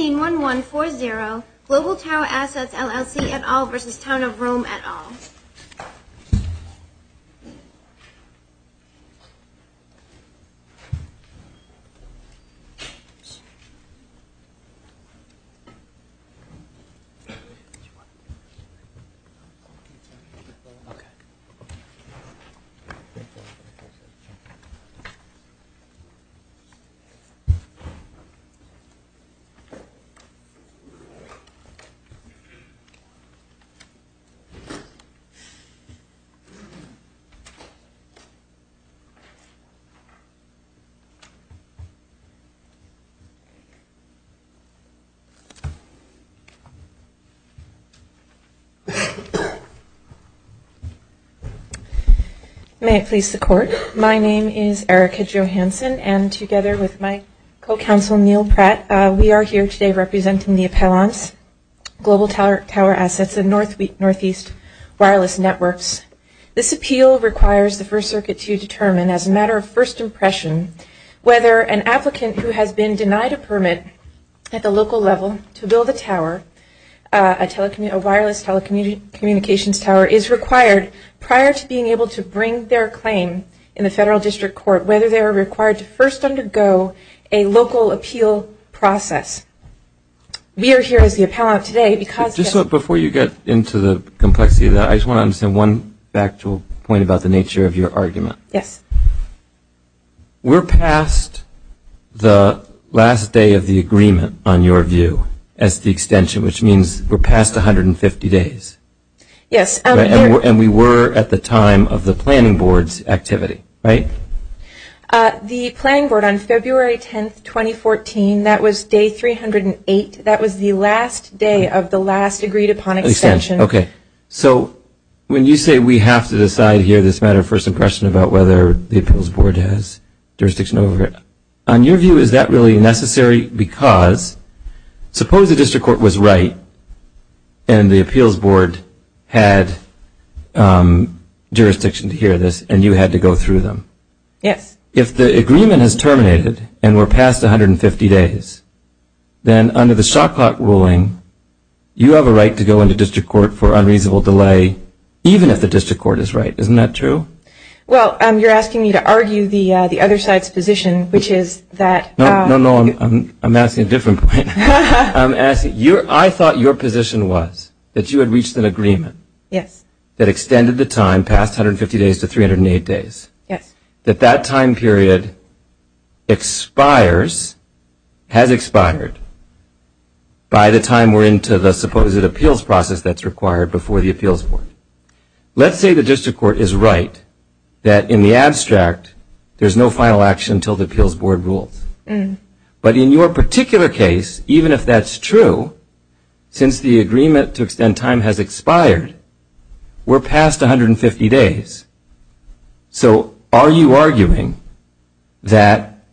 181140 Global Tower Assets LLC et al. v. Town of Rome et al. May it please the Court, my name is Erica Johansson and together with my co-counsel Neal Pratt, we are here today representing the appellants, Global Tower Assets and Northeast Wireless Networks. This appeal requires the First Circuit to determine as a matter of first impression whether an applicant who has been denied a permit at the local level to build a tower, a wireless telecommunications tower, is required prior to being able to bring their claim in the Federal District Court, whether they are required to first undergo a local appeal process. We are here as the appellant today because Just before you get into the complexity of that, I just want to understand one factual point about the nature of your argument. Yes. We're past the last day of the agreement, on your view, as the extension, which means we're past 150 days. Yes. And we were at the time of the planning board's activity, right? The planning board on February 10th, 2014, that was day 308, that was the last day of the last agreed upon extension. Extension, okay. So when you say we have to decide here as a matter of first impression about whether the appeals board has jurisdiction over it, on your view is that really necessary because suppose the District Court was right and the appeals board had jurisdiction to hear this and you had to go through them. Yes. If the agreement has terminated and we're past 150 days, then under the Shot Clock ruling you have a right to go into District Court for unreasonable delay, even if the District Court is right. Isn't that true? Well, you're asking me to argue the other side's position, which is that No, no, no, I'm asking a different point. I'm asking, I thought your position was that you had reached an agreement that extended the time past 150 days to 308 days, that that time period expires, has expired by the time we're into the supposed appeals process that's required before the appeals board. Let's say the District Court is right that in the abstract there's no final action until the appeals board rules. But in your particular case, even if that's true, since the agreement to extend time has expired, we're past 150 days. So are you arguing that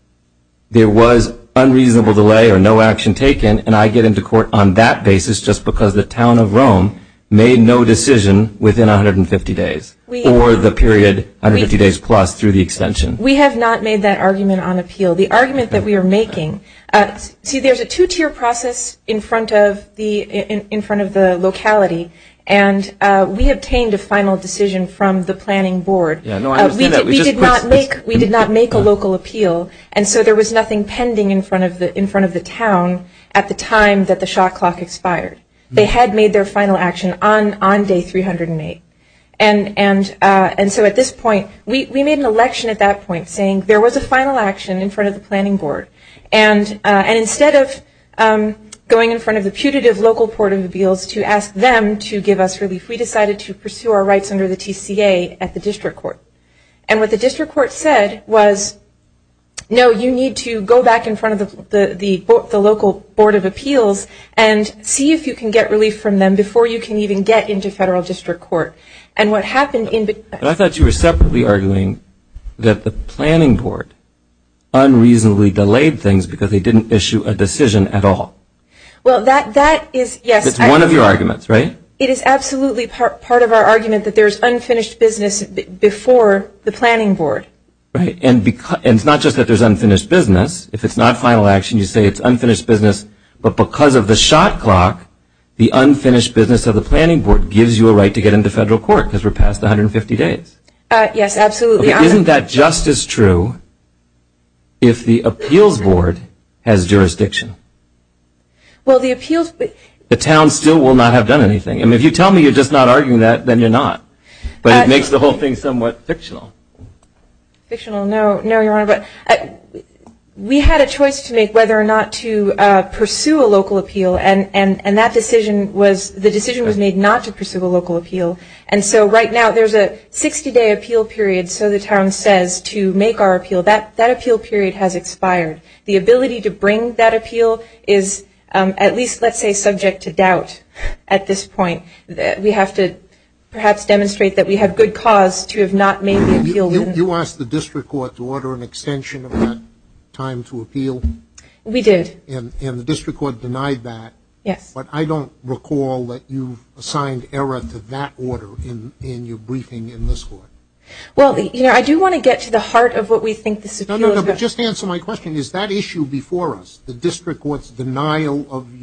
there was unreasonable delay or no action taken and I get into court on that basis just because the town of Rome made no decision within 150 days or the period 150 days plus through the extension? We have not made that argument on appeal. The argument that we are making, see, there's a two-tier process in front of the locality. And we obtained a final decision from the planning board. We did not make a local appeal. And so there was nothing pending in front of the town at the time that the shot clock expired. They had made their final action on day 308. And so at this point, we made an election at that point saying there was a final action in front of the planning board. And instead of going in front of the putative local port of appeals to ask them to give us relief, we decided to pursue our rights under the TCA at the District Court. And what the District Court said was, no, you need to go back in front of the local board of appeals and see if you can get relief from them before you can even get into federal District Court. And what happened in between I thought you were separately arguing that the planning board unreasonably delayed things because they didn't issue a decision at all. Well, that is, yes. It's one of your arguments, right? It is absolutely part of our argument that there's unfinished business before the planning board. Right. And it's not just that there's unfinished business. If it's not final action, you say it's unfinished business. But because of the shot clock, the unfinished business of the planning board gives you a to get into federal court because we're past 150 days. Yes, absolutely. Isn't that just as true if the appeals board has jurisdiction? Well, the appeals board. The town still will not have done anything. I mean, if you tell me you're just not arguing that, then you're not. But it makes the whole thing somewhat fictional. Fictional? No. No, Your Honor. But we had a choice to make whether or not to pursue a local appeal. And that decision was made not to pursue a local appeal. And so right now, there's a 60-day appeal period. So the town says to make our appeal. That appeal period has expired. The ability to bring that appeal is at least, let's say, subject to doubt at this point. We have to perhaps demonstrate that we have good cause to have not made the appeal. You asked the district court to order an extension of that time to appeal? We did. And the district court denied that. Yes. But I don't recall that you've assigned error to that order in your briefing in this court. Well, you know, I do want to get to the heart of what we think this appeal is about. No, no, no. Just answer my question. Is that issue before us? The district court's denial of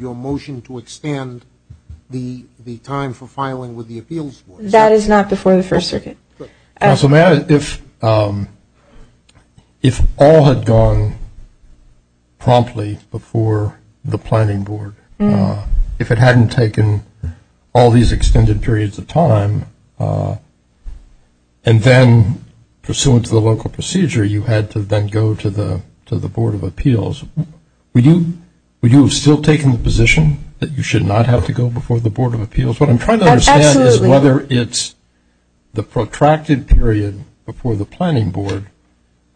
your motion to extend the time for filing with the appeals board? That is not before the First Circuit. Counsel, may I ask, if all had gone promptly before the planning board, if it hadn't taken all these extended periods of time, and then pursuant to the local procedure, you had to then go to the Board of Appeals, would you have still taken the position that you should not have to go before the Board of Appeals? What I'm trying to understand is whether it's the protracted period before the planning board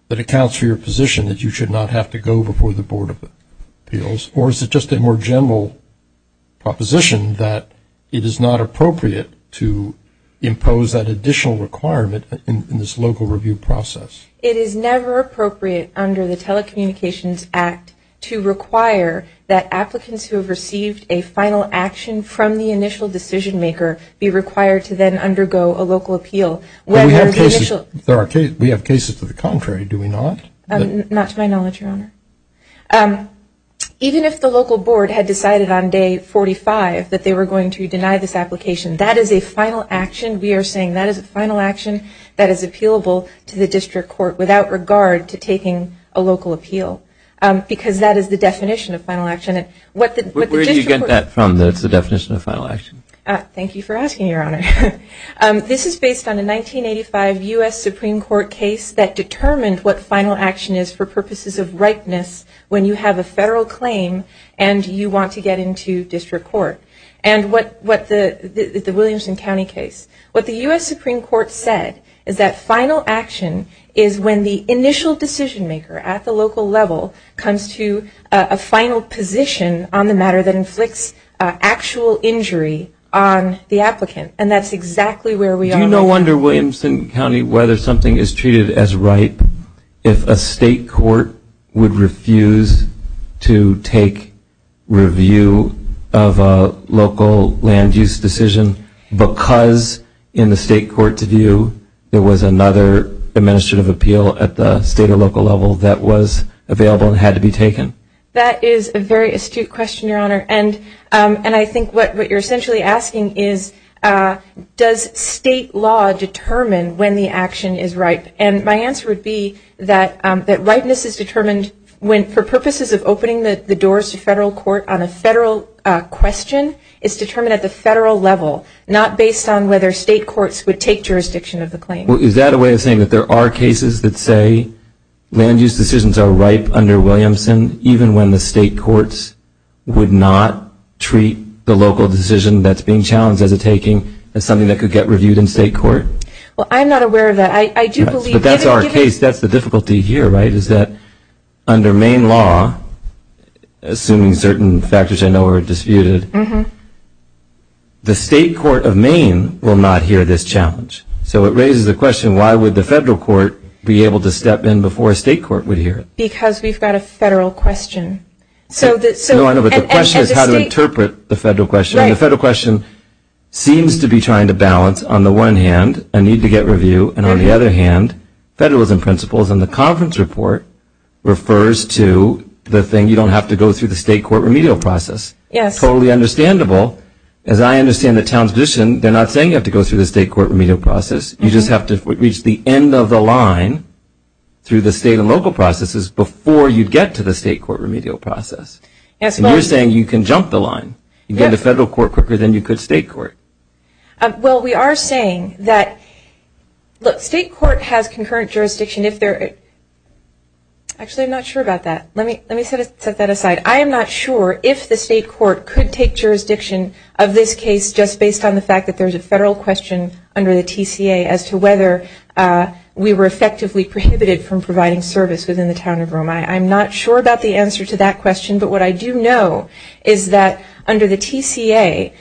that accounts for your position that you should not have to go before the Board of Appeals, or is it just a more general proposition that it is not appropriate to impose that additional requirement in this local review process? It is never appropriate under the Telecommunications Act to require that applicants who have received a final action from the initial decision maker be required to then undergo a local appeal. We have cases to the contrary, do we not? Not to my knowledge, Your Honor. Even if the local board had decided on day 45 that they were going to deny this application, that is a final action. We are saying that is a final action that is appealable to the district court without regard to taking a local appeal, because that is the definition of final action. Where do you get that from, the definition of final action? Thank you for asking, Your Honor. This is based on a 1985 U.S. Supreme Court case that determined what final action is for purposes of ripeness when you have a federal claim and you want to get into district court, and the Williamson County case. What the U.S. Supreme Court said is that final action is when the initial decision maker at the local level comes to a final position on the matter that inflicts actual injury on the applicant, and that is exactly where we are right now. Do you no wonder, Williamson County, whether something is treated as ripe if a state court would refuse to take review of a local land use decision because in the state court's opinion, that is a very astute question, Your Honor, and I think what you are essentially asking is does state law determine when the action is ripe? And my answer would be that ripeness is determined for purposes of opening the doors to federal court on a federal question is determined at the federal level, not based on whether state courts would take jurisdiction of the claim. Is that a way of saying that there are cases that say land use decisions are ripe under Williamson even when the state courts would not treat the local decision that's being challenged as a taking as something that could get reviewed in state court? Well, I'm not aware of that. I do believe that's our case. That's the difficulty here, right, is that under Maine law, assuming certain factors I know are disputed, the state court of Maine will not hear this challenge. So it raises the question, why would the federal court be able to step in before a state court would hear it? Because we've got a federal question. So I know, but the question is how to interpret the federal question, and the federal question seems to be trying to balance on the one hand a need to get review, and on the other hand federalism principles in the conference report refers to the thing you don't have to go through the state court remedial process. Yes. Totally understandable. As I understand the town's position, they're not saying you have to go through the state court remedial process. You just have to reach the end of the line through the state and local processes before you get to the state court remedial process. And you're saying you can jump the line. You can get to federal court quicker than you could state court. Well, we are saying that, look, state court has concurrent jurisdiction if they're, actually I'm not sure about that. Let me set that aside. I am not sure if the state court could take jurisdiction of this case just based on the federal question under the TCA as to whether we were effectively prohibited from providing service within the town of Rome. I'm not sure about the answer to that question, but what I do know is that under the TCA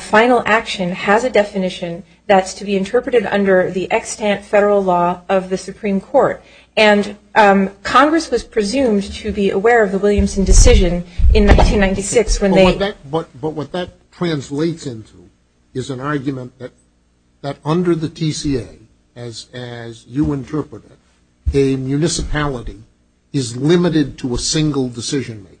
final action has a definition that's to be interpreted under the extant federal law of the Supreme Court, and Congress was presumed to be aware of the Williamson decision in 1996 when they But what that translates into is an argument that under the TCA, as you interpret it, a municipality is limited to a single decision maker,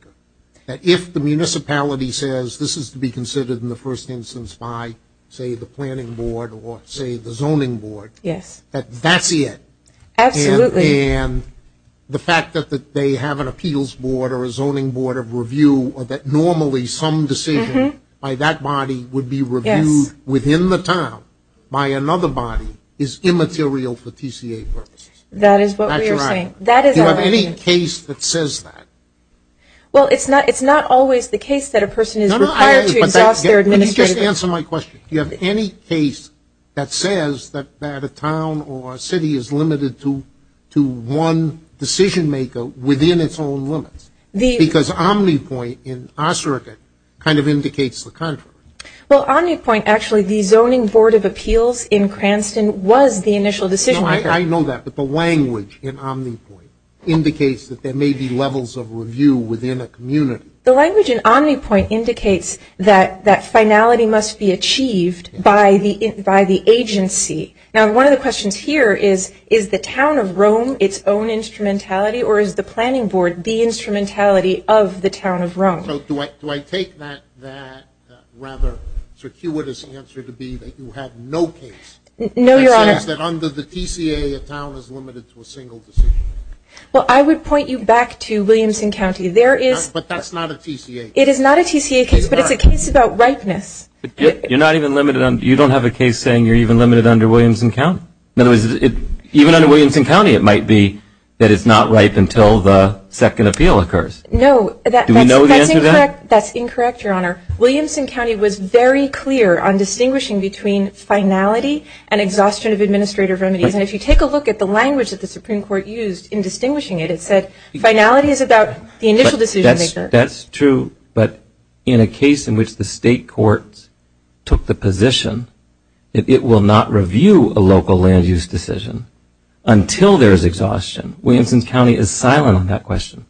that if the municipality says this is to be considered in the first instance by, say, the planning board or, say, the zoning board, that that's it, and the fact that they have an appeals board or a zoning board of some decision by that body would be reviewed within the town by another body is immaterial for TCA purposes. That is what we are saying. That is what we are saying. Do you have any case that says that? Well, it's not always the case that a person is required to exhaust their administrative Let me just answer my question. Do you have any case that says that a town or a city is limited to one decision maker within its own limits? Because Omnipoint in Osserka kind of indicates the contrary. Well, Omnipoint, actually, the zoning board of appeals in Cranston was the initial decision maker. No, I know that, but the language in Omnipoint indicates that there may be levels of review within a community. The language in Omnipoint indicates that that finality must be achieved by the agency. Now, one of the questions here is, is the town of Rome its own instrumentality, or is the planning board the instrumentality of the town of Rome? So do I take that rather circuitous answer to be that you have no case that says that under the TCA, a town is limited to a single decision? Well, I would point you back to Williamson County. There is But that's not a TCA case. It is not a TCA case, but it's a case about ripeness. You're not even limited on, you don't have a case saying you're even limited under Williamson County. In other words, even under Williamson County, it might be that it's not ripe until the second appeal occurs. No. Do we know the answer to that? That's incorrect, Your Honor. Williamson County was very clear on distinguishing between finality and exhaustion of administrative remedies. And if you take a look at the language that the Supreme Court used in distinguishing it, it said finality is about the initial decision maker. That's true, but in a case in which the state courts took the position that it will not review a local land use decision until there is exhaustion, Williamson County is silent on that question.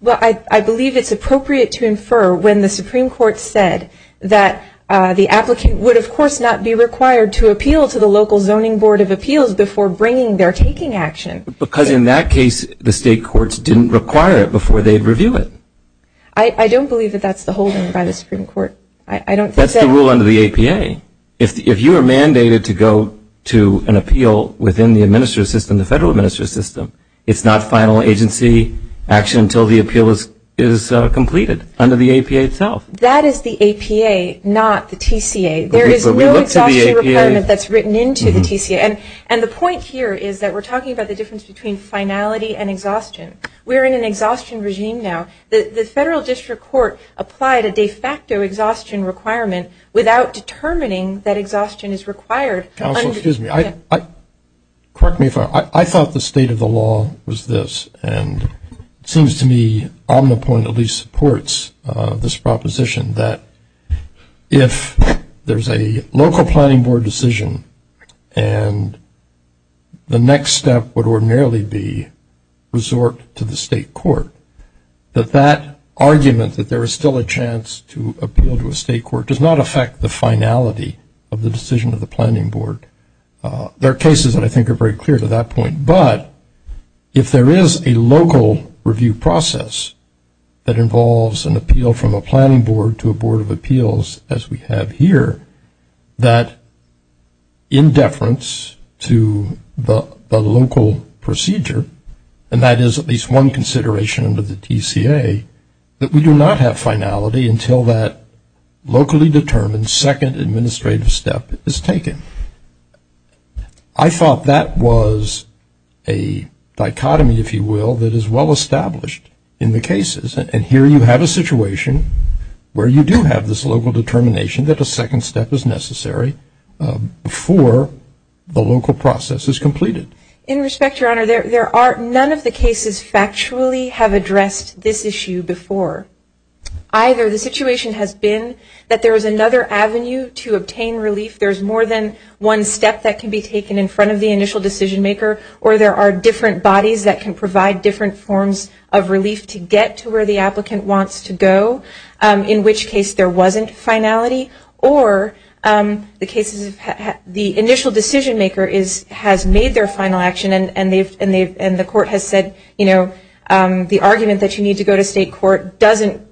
Well, I believe it's appropriate to infer when the Supreme Court said that the applicant would, of course, not be required to appeal to the local zoning board of appeals before bringing their taking action. Because in that case, the state courts didn't require it before they'd review it. I don't believe that that's the holding by the Supreme Court. I don't think that... That's the rule under the APA. If you are mandated to go to an appeal within the administrative system, the federal administrative system, it's not final agency action until the appeal is completed under the APA itself. That is the APA, not the TCA. There is no exhaustion requirement that's written into the TCA. And the point here is that we're talking about the difference between finality and exhaustion. We're in an exhaustion regime now. The federal district court applied a de facto exhaustion requirement without determining that exhaustion is required. Counsel, excuse me. I... Correct me if I'm wrong. I thought the state of the law was this, and it seems to me Omnipoint at least supports this proposition that if there's a local planning board decision and the next step would ordinarily be resort to the state court, that that argument that there is still a chance to appeal to a state court does not affect the finality of the decision of the planning board. There are cases that I think are very clear to that point, but if there is a local review process that involves an appeal from a planning board to a board of appeals as we have here, that in deference to the local procedure, and that is at least one consideration under the TCA, that we do not have finality until that locally determined second administrative step is taken. I thought that was a dichotomy, if you will, that is well established in the cases. And here you have a situation where you do have this local determination that a second step is necessary before the local process is completed. In respect, your honor, there are none of the cases factually have addressed this issue before. Either the situation has been that there is another avenue to obtain relief, there's more than one step that can be taken in front of the initial decision maker, or there are different bodies that can provide different forms of relief to get to where the applicant wants to go, in which case there wasn't finality, or the initial decision maker has made their final action and the court has said, you know, the argument that you need to go to state court doesn't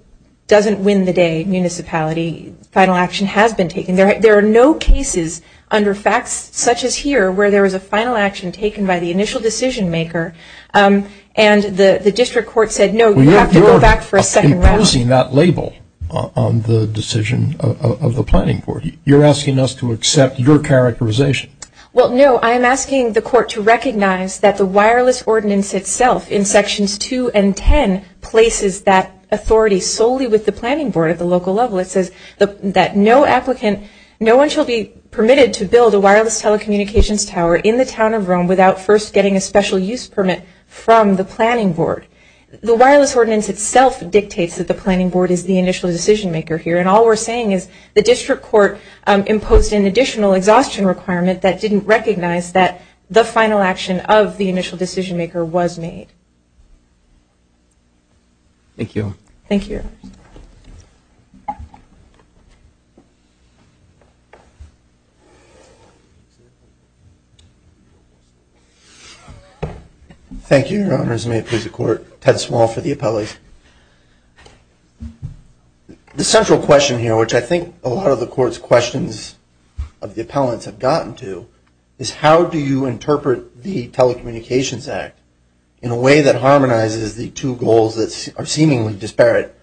win the day, municipality, final action has been taken. There are no cases under facts such as here where there was a final action taken by the initial decision maker, and the district court said, no, you have to go back for a second round. You're imposing that label on the decision of the planning board. You're asking us to accept your characterization. Well, no, I'm asking the court to recognize that the wireless ordinance itself in sections 2 and 10 places that authority solely with the planning board at the local level. It says that no applicant, no one shall be permitted to build a wireless telecommunications tower in the town of Rome without first getting a special use permit from the planning board. The wireless ordinance itself dictates that the planning board is the initial decision maker here, and all we're saying is the district court imposed an additional exhaustion requirement that didn't recognize that the final action of the initial decision maker was made. Thank you. Thank you. Thank you. Thank you, Your Honors. May it please the court, Ted Small for the appellees. The central question here, which I think a lot of the court's questions of the appellants have gotten to, is how do you interpret the Telecommunications Act in a way that harmonizes the two goals that are seemingly disparate?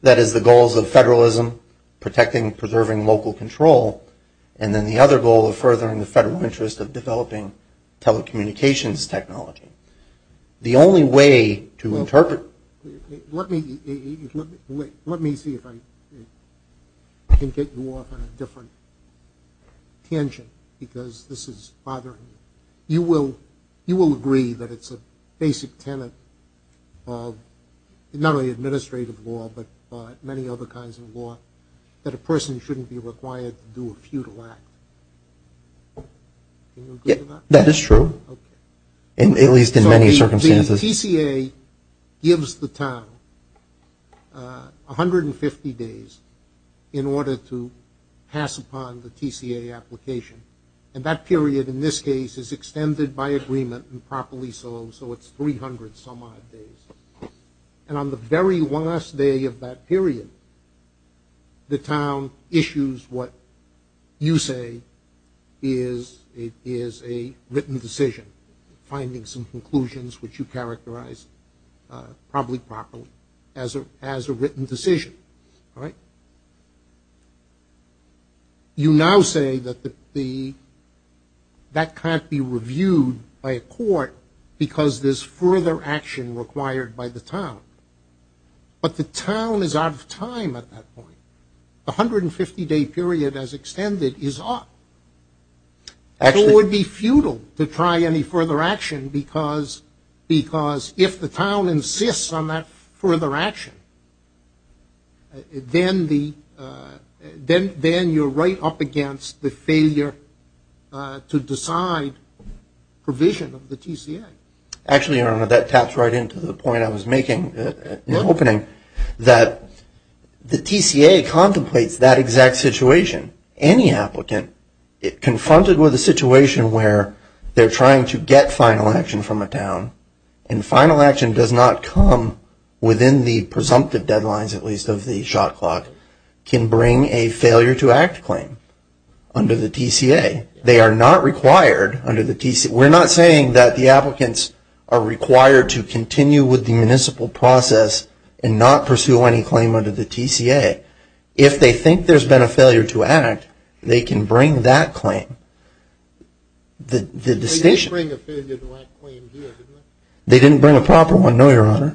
That is, the goals of federalism, protecting and preserving local control, and then the other goal of furthering the federal interest of developing telecommunications technology. The only way to interpret... Let me see if I can get you off on a different tangent, because this is bothering me. You will agree that it's a basic tenet of not only administrative law, but many other kinds of law, that a person shouldn't be required to do a futile act. Can you agree to that? That is true. Okay. At least in many circumstances. The TCA gives the town 150 days in order to pass upon the TCA application, and that period in this case is extended by agreement and properly solved, so it's 300 some odd days. And on the very last day of that period, the town issues what you say is a written decision, finding some conclusions which you characterize probably properly as a written decision. Right? You now say that the... That can't be reviewed by a court because there's further action required by the town. But the town is out of time at that point. The 150-day period as extended is odd. Actually... Then you're right up against the failure to decide provision of the TCA. Actually that taps right into the point I was making in the opening, that the TCA contemplates that exact situation. Any applicant confronted with a situation where they're trying to get final action from a town, and final action does not come within the presumptive deadlines at least of the shot clock, can bring a failure to act claim under the TCA. They are not required under the TCA. We're not saying that the applicants are required to continue with the municipal process and not pursue any claim under the TCA. If they think there's been a failure to act, they can bring that claim. They didn't bring a failure to act claim here, did they? They didn't bring a proper one, no, your honor.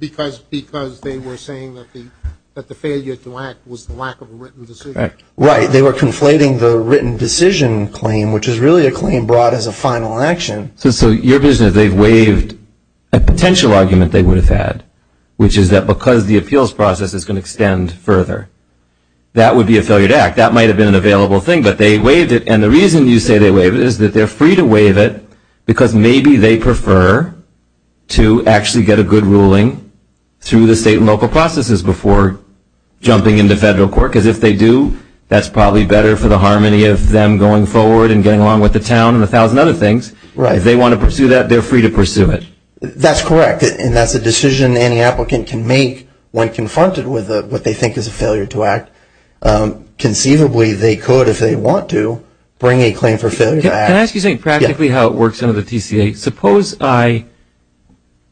Because they were saying that the failure to act was the lack of a written decision. Right. They were conflating the written decision claim, which is really a claim brought as a final action. So your vision is they've waived a potential argument they would have had, which is that because the appeals process is going to extend further, that would be a failure to act. That might have been an available thing, but they waived it. And the reason you say they waived it is that they're free to waive it because maybe they prefer to actually get a good ruling through the state and local processes before jumping into federal court. Because if they do, that's probably better for the harmony of them going forward and getting along with the town and a thousand other things. Right. If they want to pursue that, they're free to pursue it. That's correct. And that's a decision any applicant can make when confronted with what they think is a conceivably they could, if they want to, bring a claim for failure to act. Can I ask you something practically how it works under the TCA? Suppose I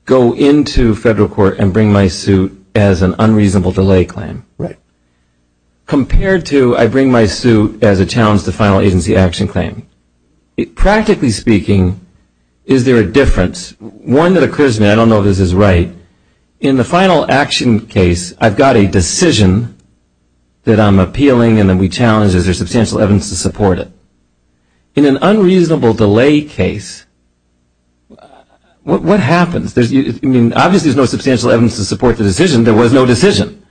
go into federal court and bring my suit as an unreasonable delay claim. Right. Compared to I bring my suit as a challenge to final agency action claim. Practically speaking, is there a difference? One that occurs to me, I don't know if this is right. In the final action case, I've got a decision that I'm appealing and that we challenge. Is there substantial evidence to support it? In an unreasonable delay case, what happens? I mean, obviously there's no substantial evidence to support the decision. There was no decision.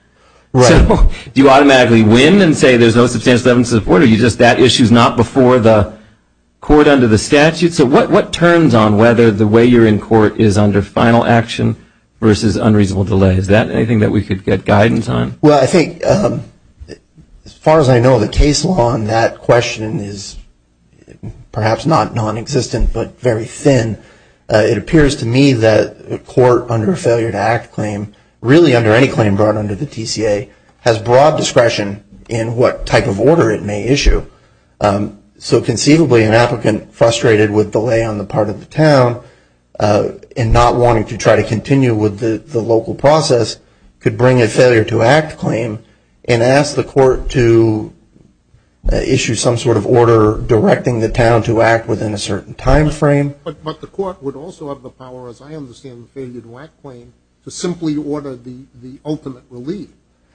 Right. So do you automatically win and say there's no substantial evidence to support it or are you just that issue is not before the court under the statute? So what turns on whether the way you're in court is under final action versus unreasonable delay? Is that anything that we could get guidance on? Well, I think as far as I know, the case law on that question is perhaps not non-existent but very thin. It appears to me that a court under a failure to act claim, really under any claim brought under the TCA, has broad discretion in what type of order it may issue. So conceivably an applicant frustrated with delay on the part of the town and not wanting to try to continue with the local process could bring a failure to act claim and ask the court to issue some sort of order directing the town to act within a certain timeframe. But the court would also have the power, as I understand the failure to act claim, to simply order the ultimate relief,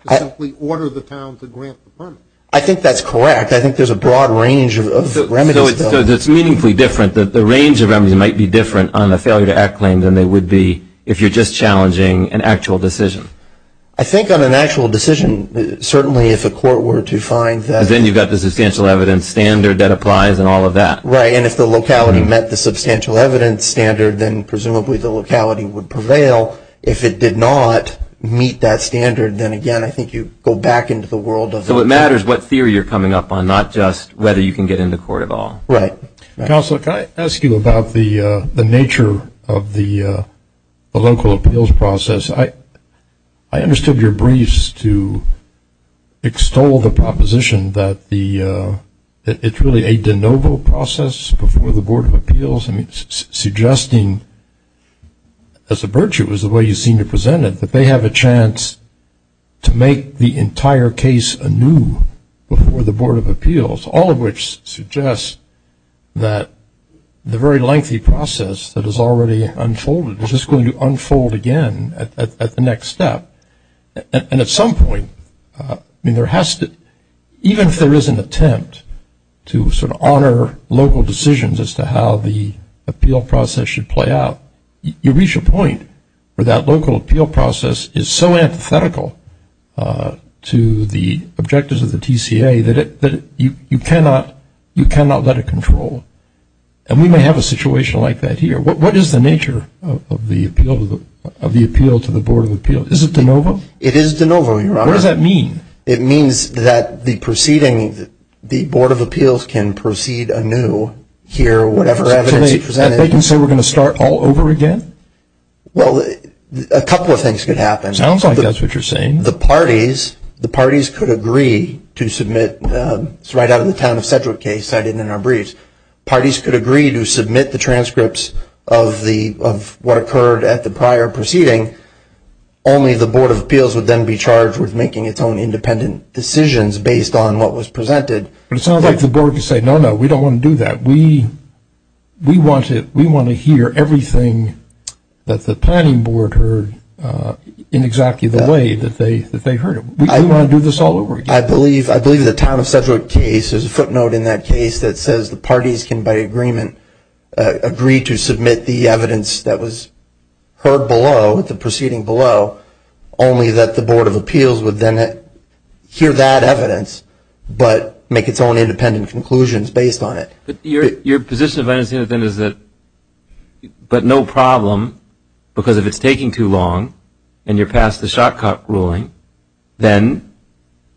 to simply order the town to grant the permit. I think that's correct. In fact, I think there's a broad range of remedies. So it's meaningfully different. The range of remedies might be different on the failure to act claim than they would be if you're just challenging an actual decision. I think on an actual decision, certainly if a court were to find that. Then you've got the substantial evidence standard that applies and all of that. Right. And if the locality met the substantial evidence standard, then presumably the locality would prevail. If it did not meet that standard, then again, I think you go back into the world of. So it matters what theory you're coming up on, not just whether you can get into court at all. Right. Counsel, can I ask you about the nature of the local appeals process? I understood your briefs to extol the proposition that it's really a de novo process before the Board of Appeals, suggesting as a virtue, as the way you seem to present it, that they have a chance to make the entire case anew before the Board of Appeals, all of which suggests that the very lengthy process that has already unfolded is just going to unfold again at the next step. And at some point, even if there is an attempt to sort of honor local decisions as to how the appeal process should play out, you reach a point where that local appeal process is so antithetical to the objectives of the TCA that you cannot let it control. And we may have a situation like that here. What is the nature of the appeal to the Board of Appeals? Is it de novo? It is de novo, Your Honor. What does that mean? It means that the proceeding, the Board of Appeals can proceed anew here, whatever evidence is presented. And they can say we're going to start all over again? Well, a couple of things could happen. Sounds like that's what you're saying. The parties could agree to submit right out of the town of Sedgwick case cited in our briefs. Parties could agree to submit the transcripts of what occurred at the prior proceeding. Only the Board of Appeals would then be charged with making its own independent decisions based on what was presented. But it sounds like the Board could say, no, no, we don't want to do that. We want to hear everything that the planning board heard in exactly the way that they heard it. We want to do this all over again. I believe the town of Sedgwick case, there's a footnote in that case that says the parties can, by agreement, agree to submit the evidence that was heard below, the proceeding below, only that the Board of Appeals would then hear that evidence but make its own independent conclusions based on it. But your position is that, but no problem, because if it's taking too long and you're past the Shotcock ruling, then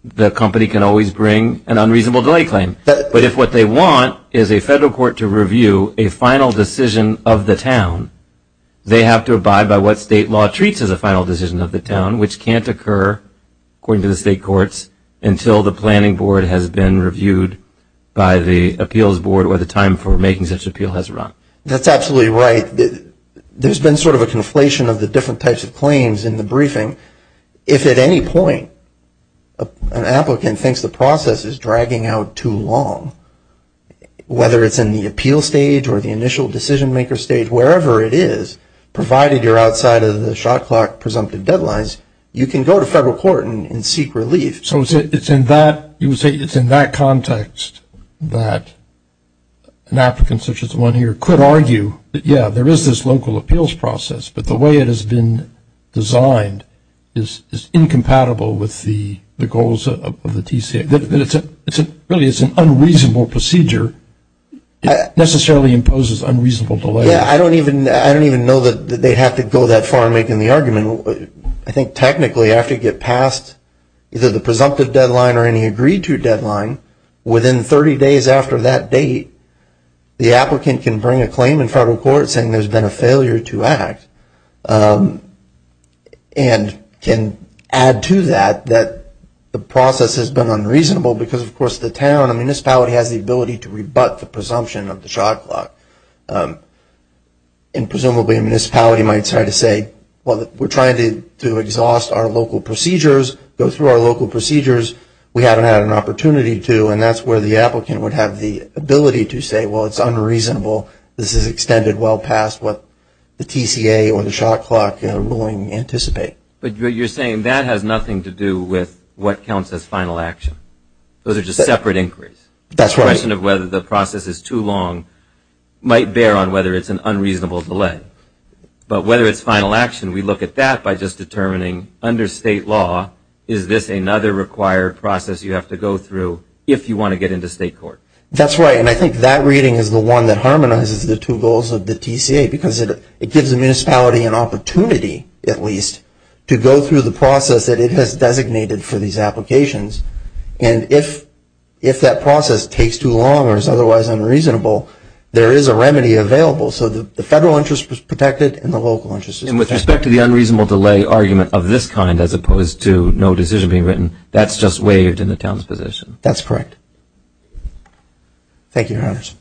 the company can always bring an unreasonable delay claim. But if what they want is a federal court to review a final decision of the town, they have to abide by what state law treats as a final decision of the town, which can't occur, according to the state courts, until the planning board has been reviewed by the appeals board or the time for making such an appeal has run. That's absolutely right. There's been sort of a conflation of the different types of claims in the briefing. If at any point an applicant thinks the process is dragging out too long, whether it's in the appeal stage or the initial decision-maker stage, wherever it is, provided you're outside of the Shotcock presumptive deadlines, you can go to federal court and seek relief. So it's in that context that an applicant such as the one here could argue that, yeah, there is this local appeals process, but the way it has been designed is incompatible with the goals of the TCA. Really, it's an unreasonable procedure. It necessarily imposes unreasonable delays. Yeah, I don't even know that they'd have to go that far in making the argument. I think technically after you get past either the presumptive deadline or any agreed-to deadline, within 30 days after that date, the applicant can bring a claim in federal court saying there's been a failure to act and can add to that that the process has been unreasonable because, of course, the town, the municipality has the ability to rebut the presumption of the Shotcock. And presumably a municipality might try to say, well, we're trying to exhaust our local procedures, go through our local procedures. We haven't had an opportunity to, and that's where the applicant would have the ability to say, well, it's unreasonable. This is extended well past what the TCA or the Shotcock ruling anticipate. But you're saying that has nothing to do with what counts as final action. Those are just separate inquiries. That's right. The question of whether the process is too long might bear on whether it's an unreasonable delay. But whether it's final action, we look at that by just determining under state law, is this another required process you have to go through if you want to get into state court? That's right, and I think that reading is the one that harmonizes the two goals of the TCA because it gives the municipality an opportunity, at least, to go through the process that it has designated for these applications. And if that process takes too long or is otherwise unreasonable, there is a remedy available. So the federal interest is protected and the local interest is protected. And with respect to the unreasonable delay argument of this kind as opposed to no decision being written, that's just waived in the town's position. That's correct. Thank you, Your Honors.